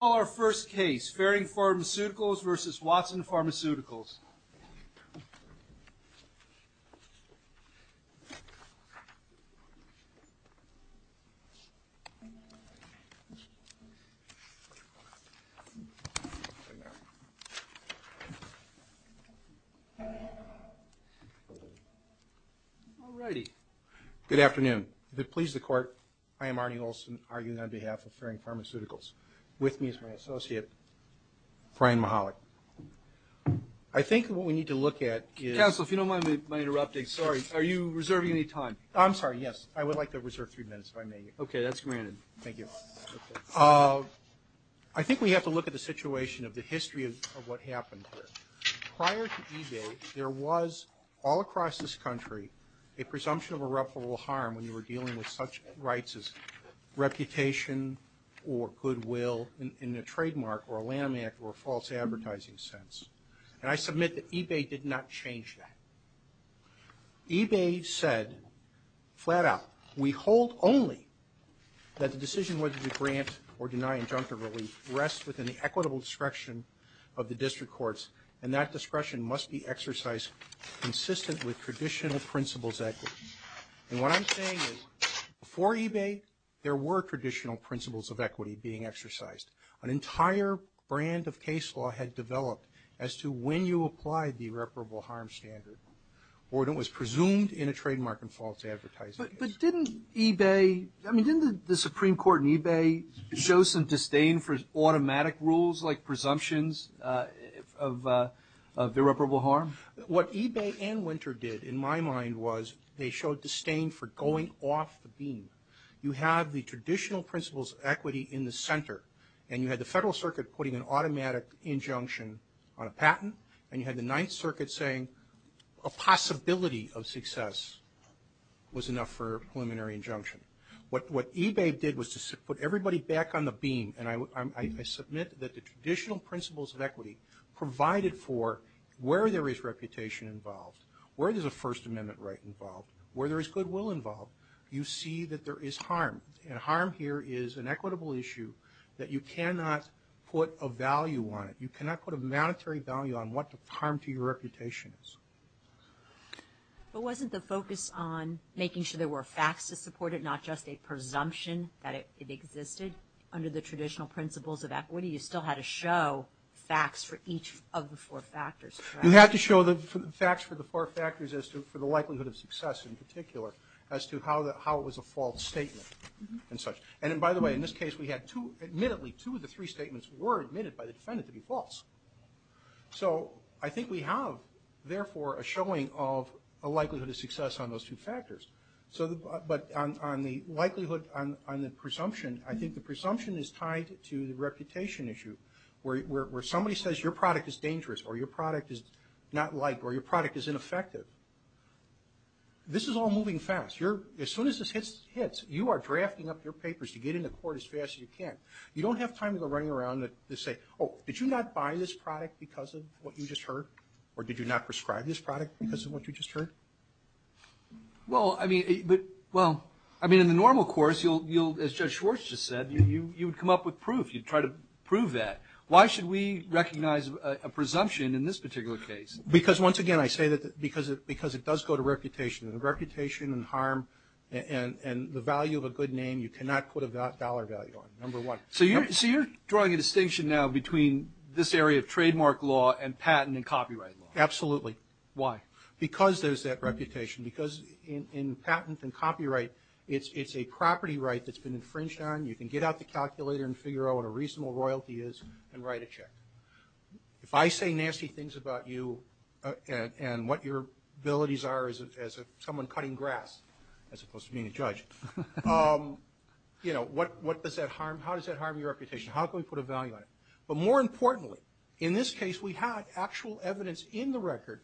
Our first case, Farring Pharmaceuticals vs. Watson Pharmaceuticals. Good afternoon. If it pleases the court, I am Arnie Olson, arguing on behalf of Farring Pharmaceuticals, with me is my associate, Brian Mahalik. I think what we need to look at is... Counsel, if you don't mind my interrupting, sorry, are you reserving any time? I'm sorry, yes. I would like to reserve three minutes, if I may. Okay, that's granted. Thank you. I think we have to look at the situation of the history of what happened here. Prior to eBay, there was, all across this country, a presumption of irreparable harm when you were dealing with such rights as reputation or goodwill in a trademark or a landmark or a false advertising sense. And I submit that eBay did not change that. eBay said, flat out, we hold only that the decision whether to grant or deny injunctive relief rests within the equitable discretion of the district courts, and that discretion must be exercised consistent with traditional principles of equity. And what I'm saying is, before eBay, there were traditional principles of equity being exercised. An entire brand of case law had developed as to when you applied the irreparable harm standard or it was presumed in a trademark and false advertising case. But didn't eBay, I mean, didn't the Supreme Court and eBay show some disdain for automatic rules like presumptions of irreparable harm? What eBay and Winter did, in my mind, was they showed disdain for going off the beam. You have the traditional principles of equity in the center, and you had the Federal Circuit putting an automatic injunction on a patent, and you had the Ninth Circuit saying a possibility of success was enough for a preliminary injunction. What eBay did was to put everybody back on the beam, and I submit that the traditional principles of equity provided for where there is reputation involved, where there's a First Amendment right involved, where there is goodwill involved, you see that there is harm, and harm here is an equitable issue that you cannot put a value on it. You cannot put a monetary value on what the harm to your reputation is. But wasn't the focus on making sure there were facts to support it, and not just a presumption that it existed under the traditional principles of equity? You still had to show facts for each of the four factors, correct? You had to show the facts for the four factors for the likelihood of success in particular, as to how it was a false statement and such. And by the way, in this case, we had two, admittedly, two of the three statements were admitted by the defendant to be false. So I think we have, therefore, a showing of a likelihood of success on those two factors. But on the likelihood, on the presumption, I think the presumption is tied to the reputation issue, where somebody says your product is dangerous, or your product is not liked, or your product is ineffective. This is all moving fast. As soon as this hits, you are drafting up your papers to get into court as fast as you can. You don't have time to go running around and say, oh, did you not buy this product because of what you just heard? Or did you not prescribe this product because of what you just heard? Well, I mean, but, well, I mean, in the normal course, you'll, as Judge Schwartz just said, you would come up with proof. You'd try to prove that. Why should we recognize a presumption in this particular case? Because, once again, I say that because it does go to reputation. And reputation and harm and the value of a good name, you cannot put a dollar value on it, number one. So you're drawing a distinction now between this area of trademark law and patent and copyright law. Absolutely. Why? Because there's that reputation. Because in patent and copyright, it's a property right that's been infringed on. You can get out the calculator and figure out what a reasonable royalty is and write a check. If I say nasty things about you and what your abilities are as someone cutting grass, as opposed to being a judge, you know, what does that harm? How does that harm your reputation? How can we put a value on it? But more importantly, in this case, we had actual evidence in the record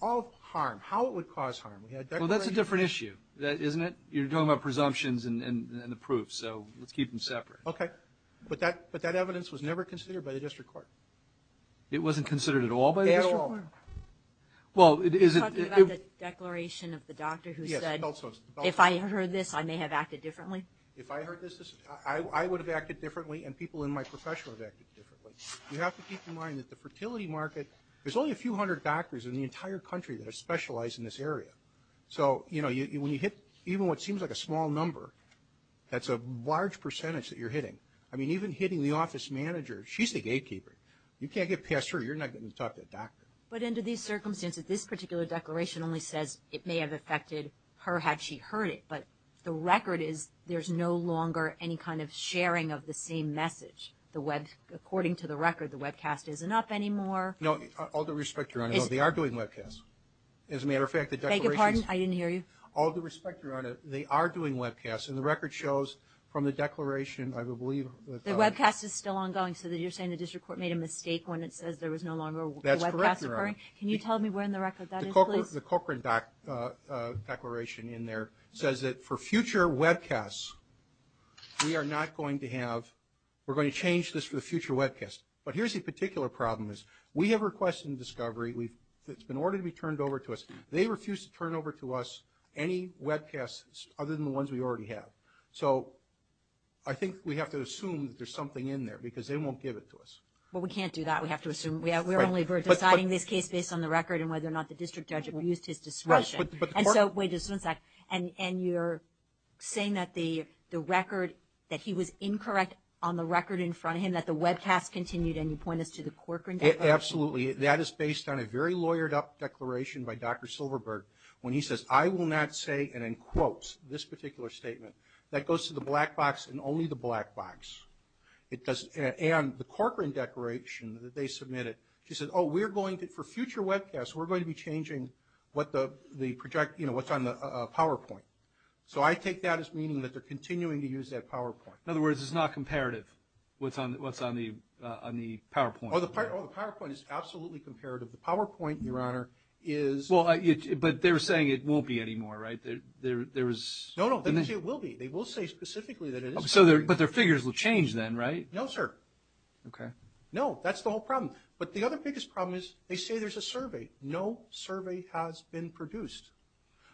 of harm, how it would cause harm. Well, that's a different issue, isn't it? You're talking about presumptions and the proof. So let's keep them separate. Okay. But that evidence was never considered by the district court. It wasn't considered at all by the district court? At all. Well, is it? Are you talking about the declaration of the doctor who said, if I heard this, I may have acted differently? If I heard this, I would have acted differently and people in my profession would have acted differently. You have to keep in mind that the fertility market, there's only a few hundred doctors in the entire country that specialize in this area. So, you know, when you hit even what seems like a small number, that's a large percentage that you're hitting. I mean, even hitting the office manager, she's the gatekeeper. You can't get past her. You're not getting to talk to a doctor. But under these circumstances, this particular declaration only says it may have affected her had she heard it. But the record is there's no longer any kind of sharing of the same message. According to the record, the webcast isn't up anymore. No. All due respect, Your Honor. No, they are doing webcasts. As a matter of fact, the declaration is- Beg your pardon? I didn't hear you. All due respect, Your Honor, they are doing webcasts. And the record shows from the declaration, I believe- The webcast is still ongoing. So you're saying the district court made a mistake when it says there was no longer a webcast occurring? That's correct, Your Honor. Can you tell me where in the record that is, please? The Cochran declaration in there says that for future webcasts, we are not going to have-we're going to change this for the future webcasts. But here's the particular problem is we have requested a discovery that's been ordered to be turned over to us. They refuse to turn over to us any webcasts other than the ones we already have. So I think we have to assume that there's something in there because they won't give it to us. Well, we can't do that. We have to assume. We're only deciding this case based on the record and whether or not the district judge abused his discretion. And so, wait just one sec. And you're saying that the record-that he was incorrect on the record in front of him, that the webcast continued, and you point us to the Cochran declaration? Absolutely. That is based on a very lawyered-up declaration by Dr. Silverberg when he says, I will not say, and in quotes, this particular statement. That goes to the black box and only the black box. And the Cochran declaration that they submitted, she said, oh, we're going to-for future webcasts, we're going to be changing what the project-you know, what's on the PowerPoint. So I take that as meaning that they're continuing to use that PowerPoint. In other words, it's not comparative, what's on the PowerPoint. Oh, the PowerPoint is absolutely comparative. The PowerPoint, Your Honor, is- Well, but they're saying it won't be anymore, right? There is- No, no, they will say it will be. They will say specifically that it is. But their figures will change then, right? No, sir. Okay. No, that's the whole problem. But the other biggest problem is they say there's a survey. No survey has been produced.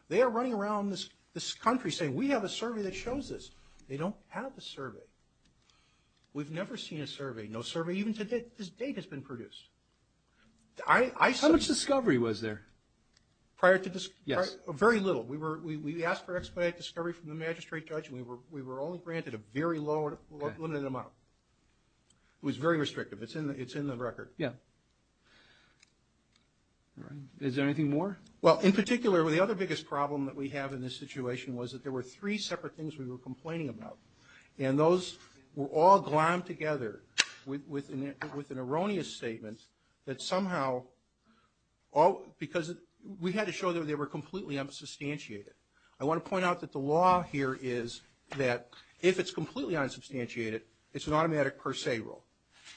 They are running around this country saying, we have a survey that shows this. They don't have a survey. We've never seen a survey. No survey even to this date has been produced. I- How much discovery was there? Prior to this- Yes. Very little. We asked for expedited discovery from the magistrate judge, and we were only granted a very limited amount. It was very restrictive. It's in the record. Yeah. Is there anything more? Well, in particular, the other biggest problem that we have in this situation was that there were three separate things we were complaining about. And those were all glommed together with an erroneous statement that somehow- Because we had to show that they were completely unsubstantiated. I want to point out that the law here is that if it's completely unsubstantiated, it's an automatic per se rule.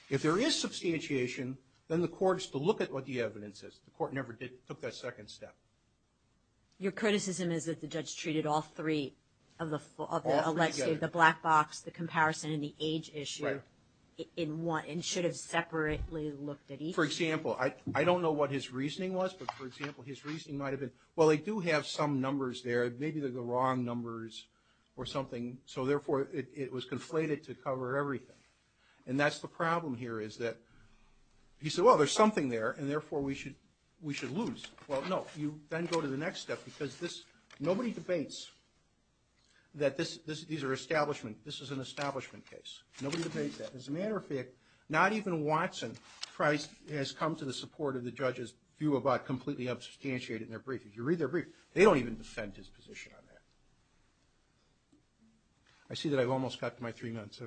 If there is substantiation, then the court has to look at what the evidence is. The court never took that second step. Your criticism is that the judge treated all three of the- All three together. The black box, the comparison, and the age issue in one and should have separately looked at each. For example, I don't know what his reasoning was, but, for example, his reasoning might have been, well, they do have some numbers there. Maybe they're the wrong numbers or something. So, therefore, it was conflated to cover everything. And that's the problem here is that he said, well, there's something there, and, therefore, we should lose. Well, no, you then go to the next step because nobody debates that these are establishment. This is an establishment case. Nobody debates that. As a matter of fact, not even Watson has come to the support of the judge's view about completely substantiating their brief. If you read their brief, they don't even defend his position on that. I see that I've almost got to my three minutes.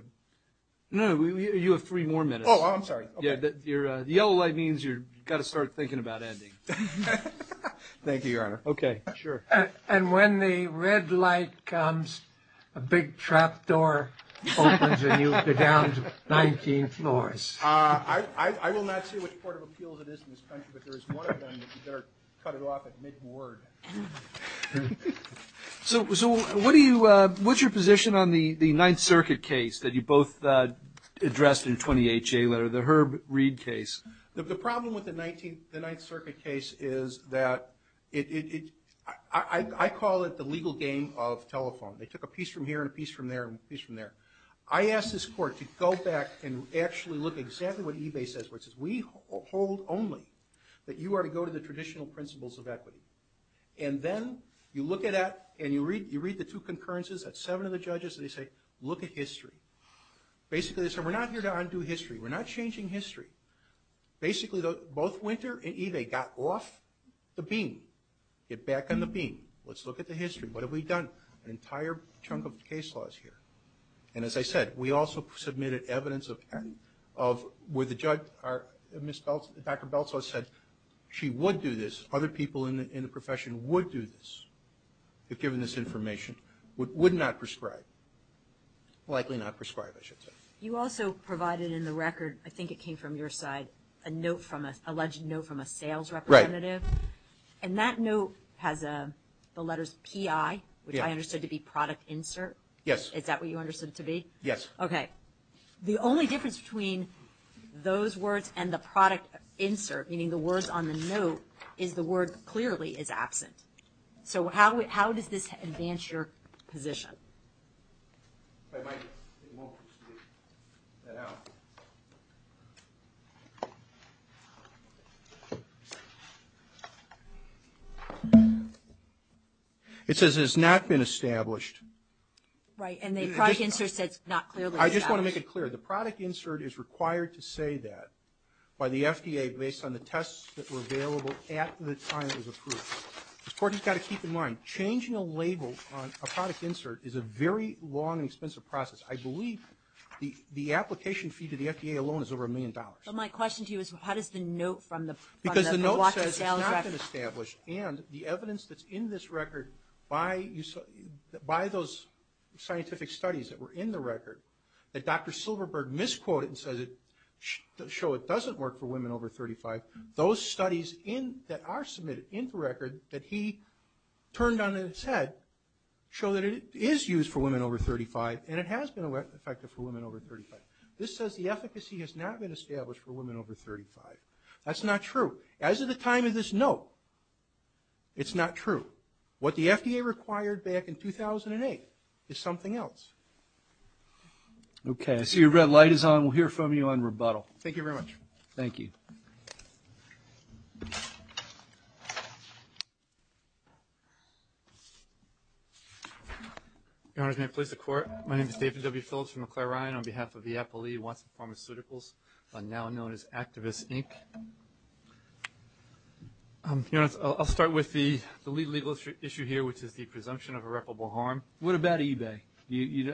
No, you have three more minutes. Oh, I'm sorry. The yellow light means you've got to start thinking about ending. Thank you, Your Honor. Okay, sure. And when the red light comes, a big trap door opens, and you go down to 19 floors. I will not say which Court of Appeals it is in this country, but there is one of them that you better cut it off at mid-word. So what's your position on the Ninth Circuit case that you both addressed in the 20HA letter, the Herb Reid case? The problem with the Ninth Circuit case is that I call it the legal game of telephone. They took a piece from here and a piece from there and a piece from there. I asked this Court to go back and actually look at exactly what eBay says, which is we hold only that you are to go to the traditional principles of equity. And then you look at that, and you read the two concurrences at seven of the judges, and they say, look at history. Basically, they say, we're not here to undo history. We're not changing history. Basically, both Winter and eBay got off the beam. Get back on the beam. Let's look at the history. What have we done? An entire chunk of the case law is here. And as I said, we also submitted evidence of where the judge, Dr. Beltz, said she would do this, other people in the profession would do this, if given this information, would not prescribe. Likely not prescribe, I should say. You also provided in the record, I think it came from your side, a note from an alleged note from a sales representative. Right. And that note has the letters PI, which I understood to be product insert. Yes. Is that what you understood it to be? Yes. Okay. The only difference between those words and the product insert, meaning the words on the note, is the word clearly is absent. So how does this advance your position? If I might, it won't speak that out. It says it has not been established. Right. And the product insert says not clearly established. I just want to make it clear. The product insert is required to say that by the FDA based on the tests that were available at the time it was approved. Ms. Corky, you've got to keep in mind, changing a label on a product insert is a very long and expensive process. I believe the application fee to the FDA alone is over a million dollars. But my question to you is how does the note from the watch and sales record. Because the note says it's not been established, and the evidence that's in this record by those scientific studies that were in the record that Dr. Silverberg misquoted and says it doesn't work for women over 35, those studies that are submitted in the record that he turned on its head show that it is used for women over 35, and it has been effective for women over 35. This says the efficacy has not been established for women over 35. That's not true. As of the time of this note, it's not true. What the FDA required back in 2008 is something else. Okay. I see a red light is on. We'll hear from you on rebuttal. Thank you very much. Thank you. Your Honor, can I please have the Court? My name is David W. Phillips from McLaren on behalf of the Apple E. Watson Pharmaceuticals, now known as Activist, Inc. Your Honor, I'll start with the legal issue here, which is the presumption of irreparable harm. What about eBay?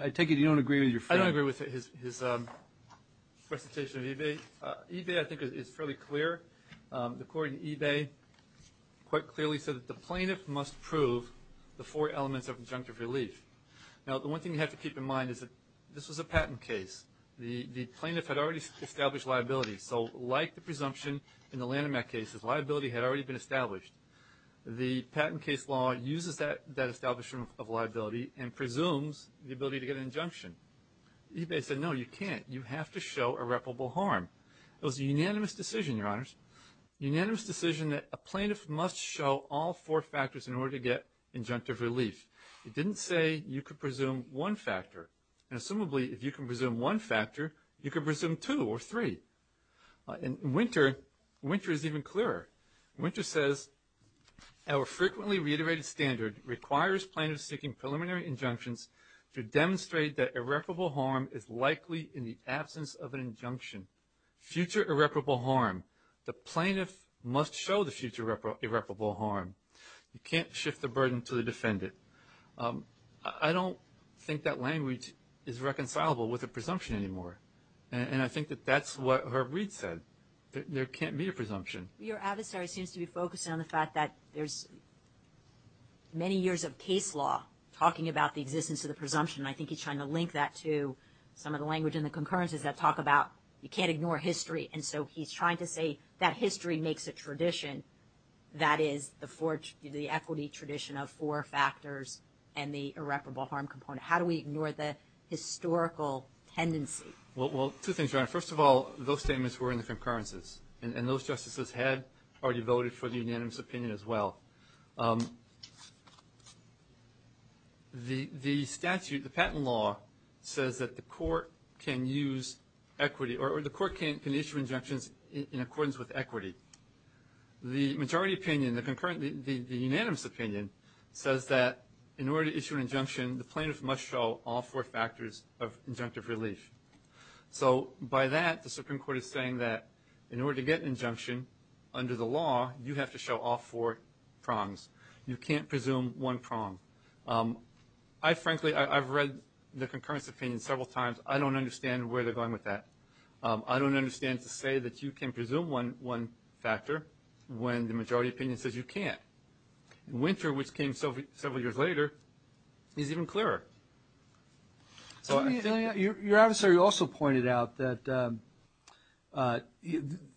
I take it you don't agree with your friend. I don't agree with his presentation of eBay. eBay, I think, is fairly clear. The Court in eBay quite clearly said that the plaintiff must prove the four elements of injunctive relief. Now, the one thing you have to keep in mind is that this was a patent case. The plaintiff had already established liability, so like the presumption in the Lanham Act cases, liability had already been established. The patent case law uses that establishment of liability and presumes the ability to get an injunction. eBay said, no, you can't. You have to show irreparable harm. It was a unanimous decision, Your Honors, a unanimous decision that a plaintiff must show all four factors in order to get injunctive relief. It didn't say you could presume one factor. And, assumably, if you can presume one factor, you can presume two or three. And Winter is even clearer. Winter says, our frequently reiterated standard requires plaintiffs seeking preliminary injunctions to demonstrate that irreparable harm is likely in the absence of an injunction. Future irreparable harm. The plaintiff must show the future irreparable harm. You can't shift the burden to the defendant. I don't think that language is reconcilable with a presumption anymore. And I think that that's what Herb Reid said. There can't be a presumption. Your adversary seems to be focusing on the fact that there's many years of case law talking about the existence of the presumption, and I think he's trying to link that to some of the language in the concurrences that talk about you can't ignore history. And so he's trying to say that history makes a tradition, that is the equity tradition of four factors and the irreparable harm component. How do we ignore the historical tendency? Well, two things, Your Honor. First of all, those statements were in the concurrences, and those justices had already voted for the unanimous opinion as well. The statute, the patent law, says that the court can use equity, or the court can issue injunctions in accordance with equity. The majority opinion, the unanimous opinion, says that in order to issue an injunction, the plaintiff must show all four factors of injunctive relief. So by that, the Supreme Court is saying that in order to get an injunction under the law, you have to show all four prongs. You can't presume one prong. I frankly, I've read the concurrence opinion several times. I don't understand where they're going with that. I don't understand to say that you can presume one factor when the majority opinion says you can't. Winter, which came several years later, is even clearer. Your adversary also pointed out that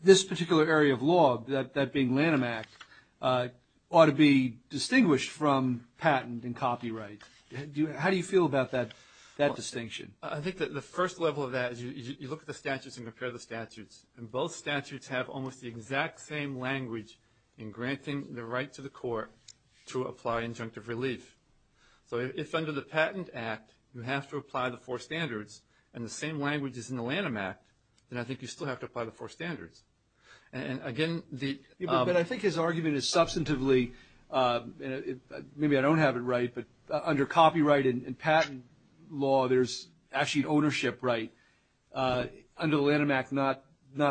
this particular area of law, that being Lanham Act, ought to be distinguished from patent and copyright. How do you feel about that distinction? I think that the first level of that is you look at the statutes and compare the statutes, and both statutes have almost the exact same language in granting the right to the court to apply injunctive relief. So if under the Patent Act, you have to apply the four standards, and the same language is in the Lanham Act, then I think you still have to apply the four standards. But I think his argument is substantively, maybe I don't have it right, but under copyright and patent law, there's actually an ownership right. Under the Lanham Act, not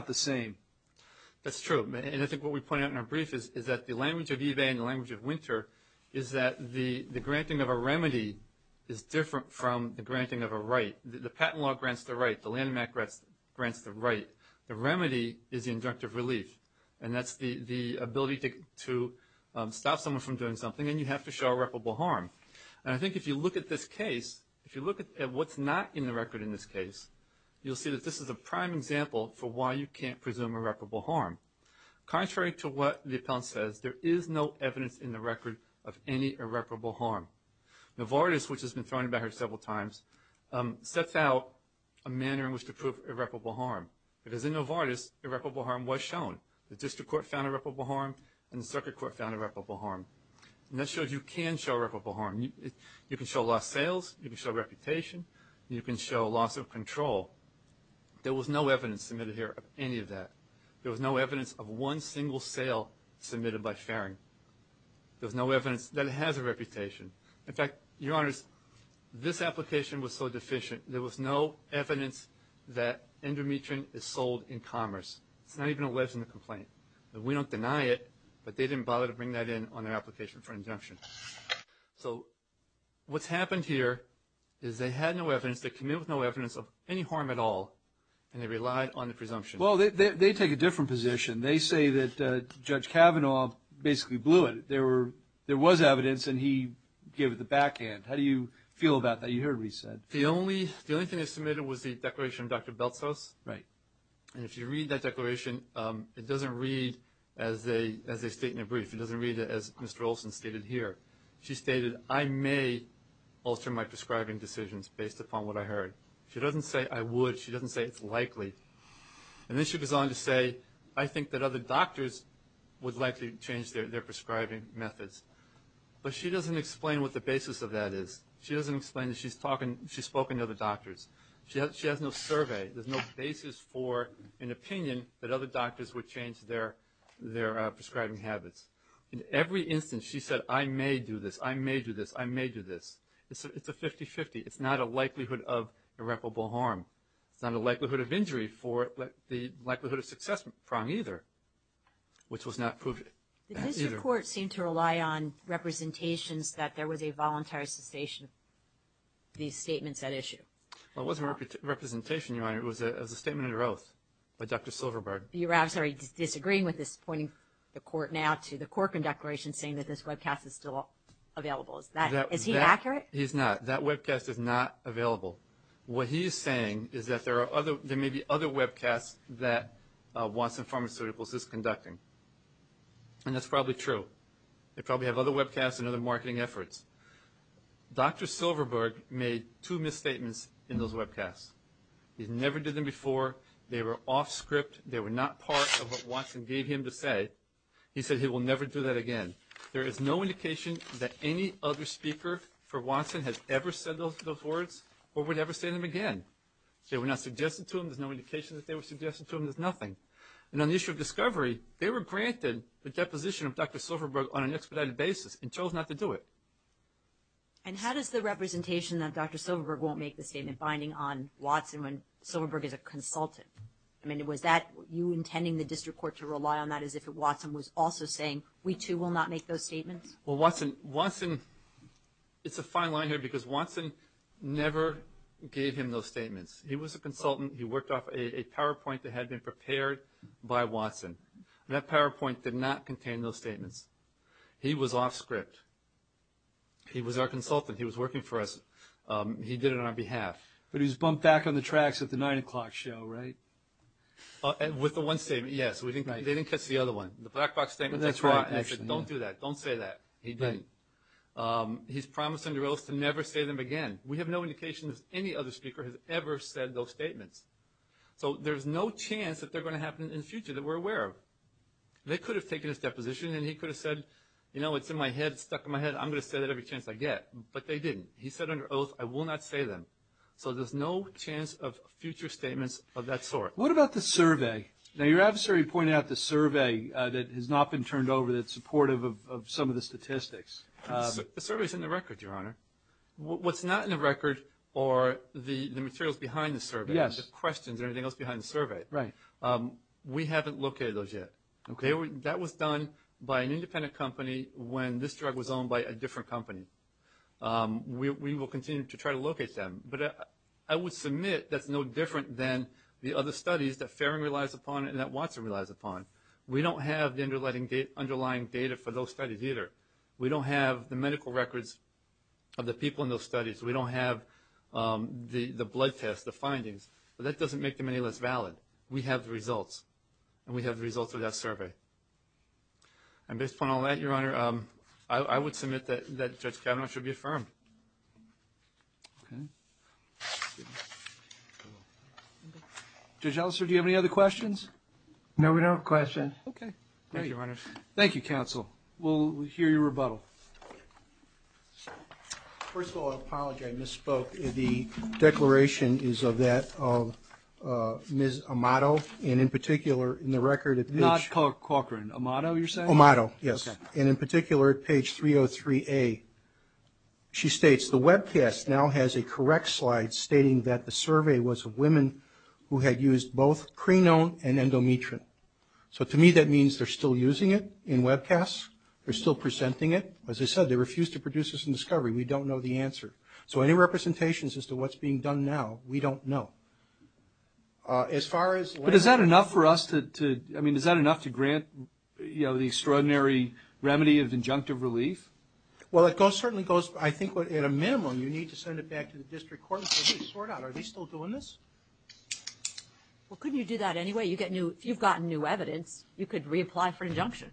the same. That's true, and I think what we point out in our brief is that the language of the granting of a remedy is different from the granting of a right. The patent law grants the right. The Lanham Act grants the right. The remedy is the injunctive relief, and that's the ability to stop someone from doing something, and you have to show irreparable harm. And I think if you look at this case, if you look at what's not in the record in this case, you'll see that this is a prime example for why you can't presume irreparable harm. Contrary to what the appellant says, there is no evidence in the record of any irreparable harm. Novartis, which has been thrown about here several times, sets out a manner in which to prove irreparable harm, because in Novartis, irreparable harm was shown. The district court found irreparable harm, and the circuit court found irreparable harm. And that shows you can show irreparable harm. You can show lost sales. You can show reputation. You can show loss of control. There was no evidence submitted here of any of that. There was no evidence of one single sale submitted by Farring. There was no evidence that it has a reputation. In fact, Your Honors, this application was so deficient, there was no evidence that endometrin is sold in commerce. It's not even alleged in the complaint. We don't deny it, but they didn't bother to bring that in on their application for injunction. So what's happened here is they had no evidence, they came in with no evidence of any harm at all, and they relied on the presumption. Well, they take a different position. They say that Judge Kavanaugh basically blew it. There was evidence, and he gave it the backhand. How do you feel about that? You heard what he said. The only thing I submitted was the declaration of Dr. Beltzos. Right. And if you read that declaration, it doesn't read as a statement brief. It doesn't read it as Mr. Olson stated here. She stated, I may alter my prescribing decisions based upon what I heard. She doesn't say I would. She doesn't say it's likely. And then she goes on to say, I think that other doctors would likely change their prescribing methods. But she doesn't explain what the basis of that is. She doesn't explain that she's spoken to other doctors. She has no survey. There's no basis for an opinion that other doctors would change their prescribing habits. In every instance, she said, I may do this, I may do this, I may do this. It's a 50-50. It's not a likelihood of irreparable harm. It's not a likelihood of injury for the likelihood of success problem either, which was not proved. Did this report seem to rely on representations that there was a voluntary cessation of these statements at issue? Well, it wasn't a representation, Your Honor. It was a statement under oath by Dr. Silverberg. You're disagreeing with this, pointing the court now to the Corcoran Declaration saying that this webcast is still available. Is he accurate? He's not. That webcast is not available. What he is saying is that there may be other webcasts that Watson Pharmaceuticals is conducting, and that's probably true. They probably have other webcasts and other marketing efforts. Dr. Silverberg made two misstatements in those webcasts. He never did them before. They were off script. They were not part of what Watson gave him to say. He said he will never do that again. There is no indication that any other speaker for Watson has ever said those words or would ever say them again. They were not suggested to him. There's no indication that they were suggested to him. There's nothing. And on the issue of discovery, they were granted the deposition of Dr. Silverberg on an expedited basis and chose not to do it. And how does the representation that Dr. Silverberg won't make the statement binding on Watson when Silverberg is a consultant? I mean, was that you intending the district court to rely on that as if Watson was also saying we too will not make those statements? Well, Watson, it's a fine line here because Watson never gave him those statements. He was a consultant. He worked off a PowerPoint that had been prepared by Watson. That PowerPoint did not contain those statements. He was off script. He was our consultant. He was working for us. He did it on our behalf. But he was bumped back on the tracks at the 9 o'clock show, right? With the one statement, yes. They didn't catch the other one. The black box statement. That's right. Don't do that. Don't say that. He didn't. He's promised under oath to never say them again. We have no indication that any other speaker has ever said those statements. So there's no chance that they're going to happen in the future that we're aware of. They could have taken his deposition and he could have said, you know, it's in my head, stuck in my head, I'm going to say that every chance I get. But they didn't. He said under oath, I will not say them. So there's no chance of future statements of that sort. What about the survey? Now, your adversary pointed out the survey that has not been turned over, that's supportive of some of the statistics. The survey is in the record, Your Honor. What's not in the record are the materials behind the survey, the questions and everything else behind the survey. Right. We haven't located those yet. That was done by an independent company when this drug was owned by a different company. We will continue to try to locate them. But I would submit that's no different than the other studies that Farron relies upon and that Watson relies upon. We don't have the underlying data for those studies either. We don't have the medical records of the people in those studies. We don't have the blood tests, the findings. But that doesn't make them any less valid. We have the results, and we have the results of that survey. And based upon all that, Your Honor, I would submit that Judge Kavanaugh should be affirmed. Okay. Judge Elster, do you have any other questions? No, we don't have a question. Okay. Thank you, Your Honor. Thank you, counsel. We'll hear your rebuttal. First of all, I apologize. I misspoke. The declaration is of that of Ms. Amato, and in particular, in the record, Not Cochran. Amato, you're saying? Amato, yes. Okay. In particular, at page 303A, she states, The webcast now has a correct slide stating that the survey was of women who had used both crinone and endometrine. So to me, that means they're still using it in webcasts. They're still presenting it. As I said, they refuse to produce this in discovery. We don't know the answer. So any representations as to what's being done now, we don't know. As far as – But is that enough for us to – I mean, the extraordinary remedy of injunctive relief? Well, it certainly goes – I think at a minimum, you need to send it back to the district court and say, Hey, sort out. Are they still doing this? Well, couldn't you do that anyway? If you've gotten new evidence, you could reapply for injunction,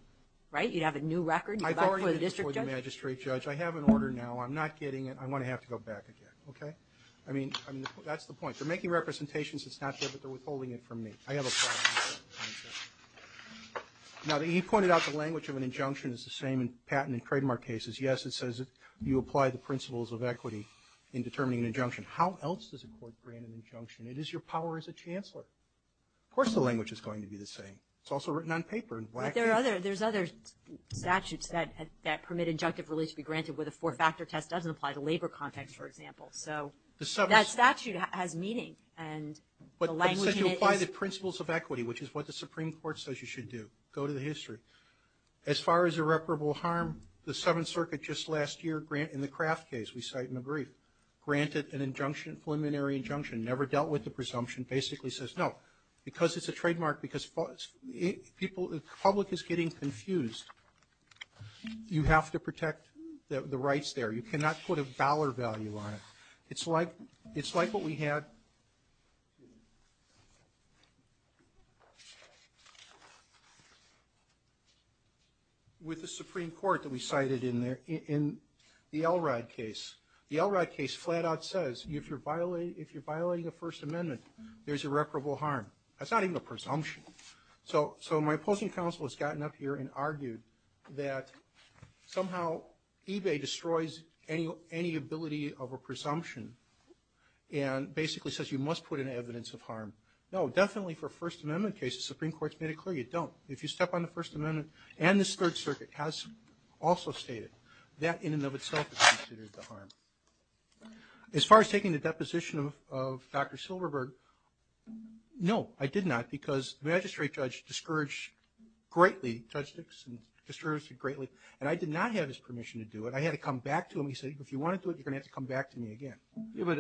right? You'd have a new record. You'd go back to the district judge. I've already been before the magistrate judge. I have an order now. I'm not getting it. I'm going to have to go back again, okay? I mean, that's the point. They're making representations. It's not good, but they're withholding it from me. I have a problem with that concept. Now, he pointed out the language of an injunction is the same in patent and trademark cases. Yes, it says you apply the principles of equity in determining an injunction. How else does a court grant an injunction? It is your power as a chancellor. Of course the language is going to be the same. It's also written on paper. But there are other – there's other statutes that permit injunctive relief to be granted where the four-factor test doesn't apply to labor context, for example. So that statute has meaning, and the language in it is – that's what the Supreme Court says you should do. Go to the history. As far as irreparable harm, the Seventh Circuit just last year in the Kraft case, we cite in the brief, granted an injunction, preliminary injunction, never dealt with the presumption, basically says no, because it's a trademark, because people – the public is getting confused. You have to protect the rights there. You cannot put a dollar value on it. It's like what we had with the Supreme Court that we cited in the Elrod case. The Elrod case flat-out says if you're violating a First Amendment, there's irreparable harm. That's not even a presumption. So my opposing counsel has gotten up here and argued that somehow eBay destroys any ability of a presumption and basically says you must put in evidence of harm. No, definitely for First Amendment cases, Supreme Court's made it clear you don't. If you step on the First Amendment, and this Third Circuit has also stated, that in and of itself is considered the harm. As far as taking the deposition of Dr. Silverberg, no, I did not, because the magistrate judge discouraged it greatly. And I did not have his permission to do it. I had to come back to him. He said, if you want to do it, you're going to have to come back to me again. But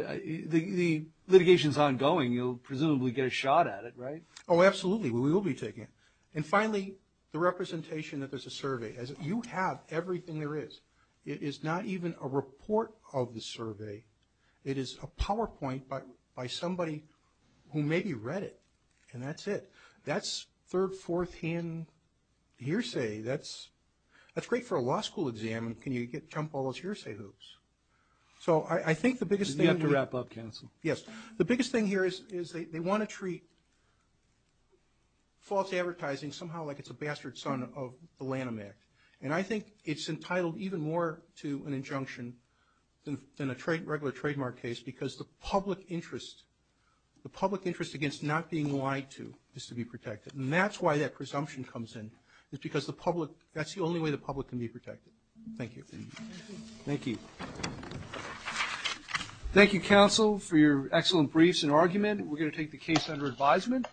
the litigation's ongoing. You'll presumably get a shot at it, right? Oh, absolutely. We will be taking it. And finally, the representation that there's a survey. You have everything there is. It is not even a report of the survey. It is a PowerPoint by somebody who maybe read it. And that's it. That's third, fourth-hand hearsay. That's great for a law school exam. Can you jump all those hearsay hoops? So I think the biggest thing here is they want to treat false advertising somehow like it's a bastard son of the Lanham Act. And I think it's entitled even more to an injunction than a regular trademark case because the public interest against not being lied to is to be protected. And that's why that presumption comes in, because that's the only way the public can be protected. Thank you. Thank you. Thank you, counsel, for your excellent briefs and argument. We're going to take the case under advisement.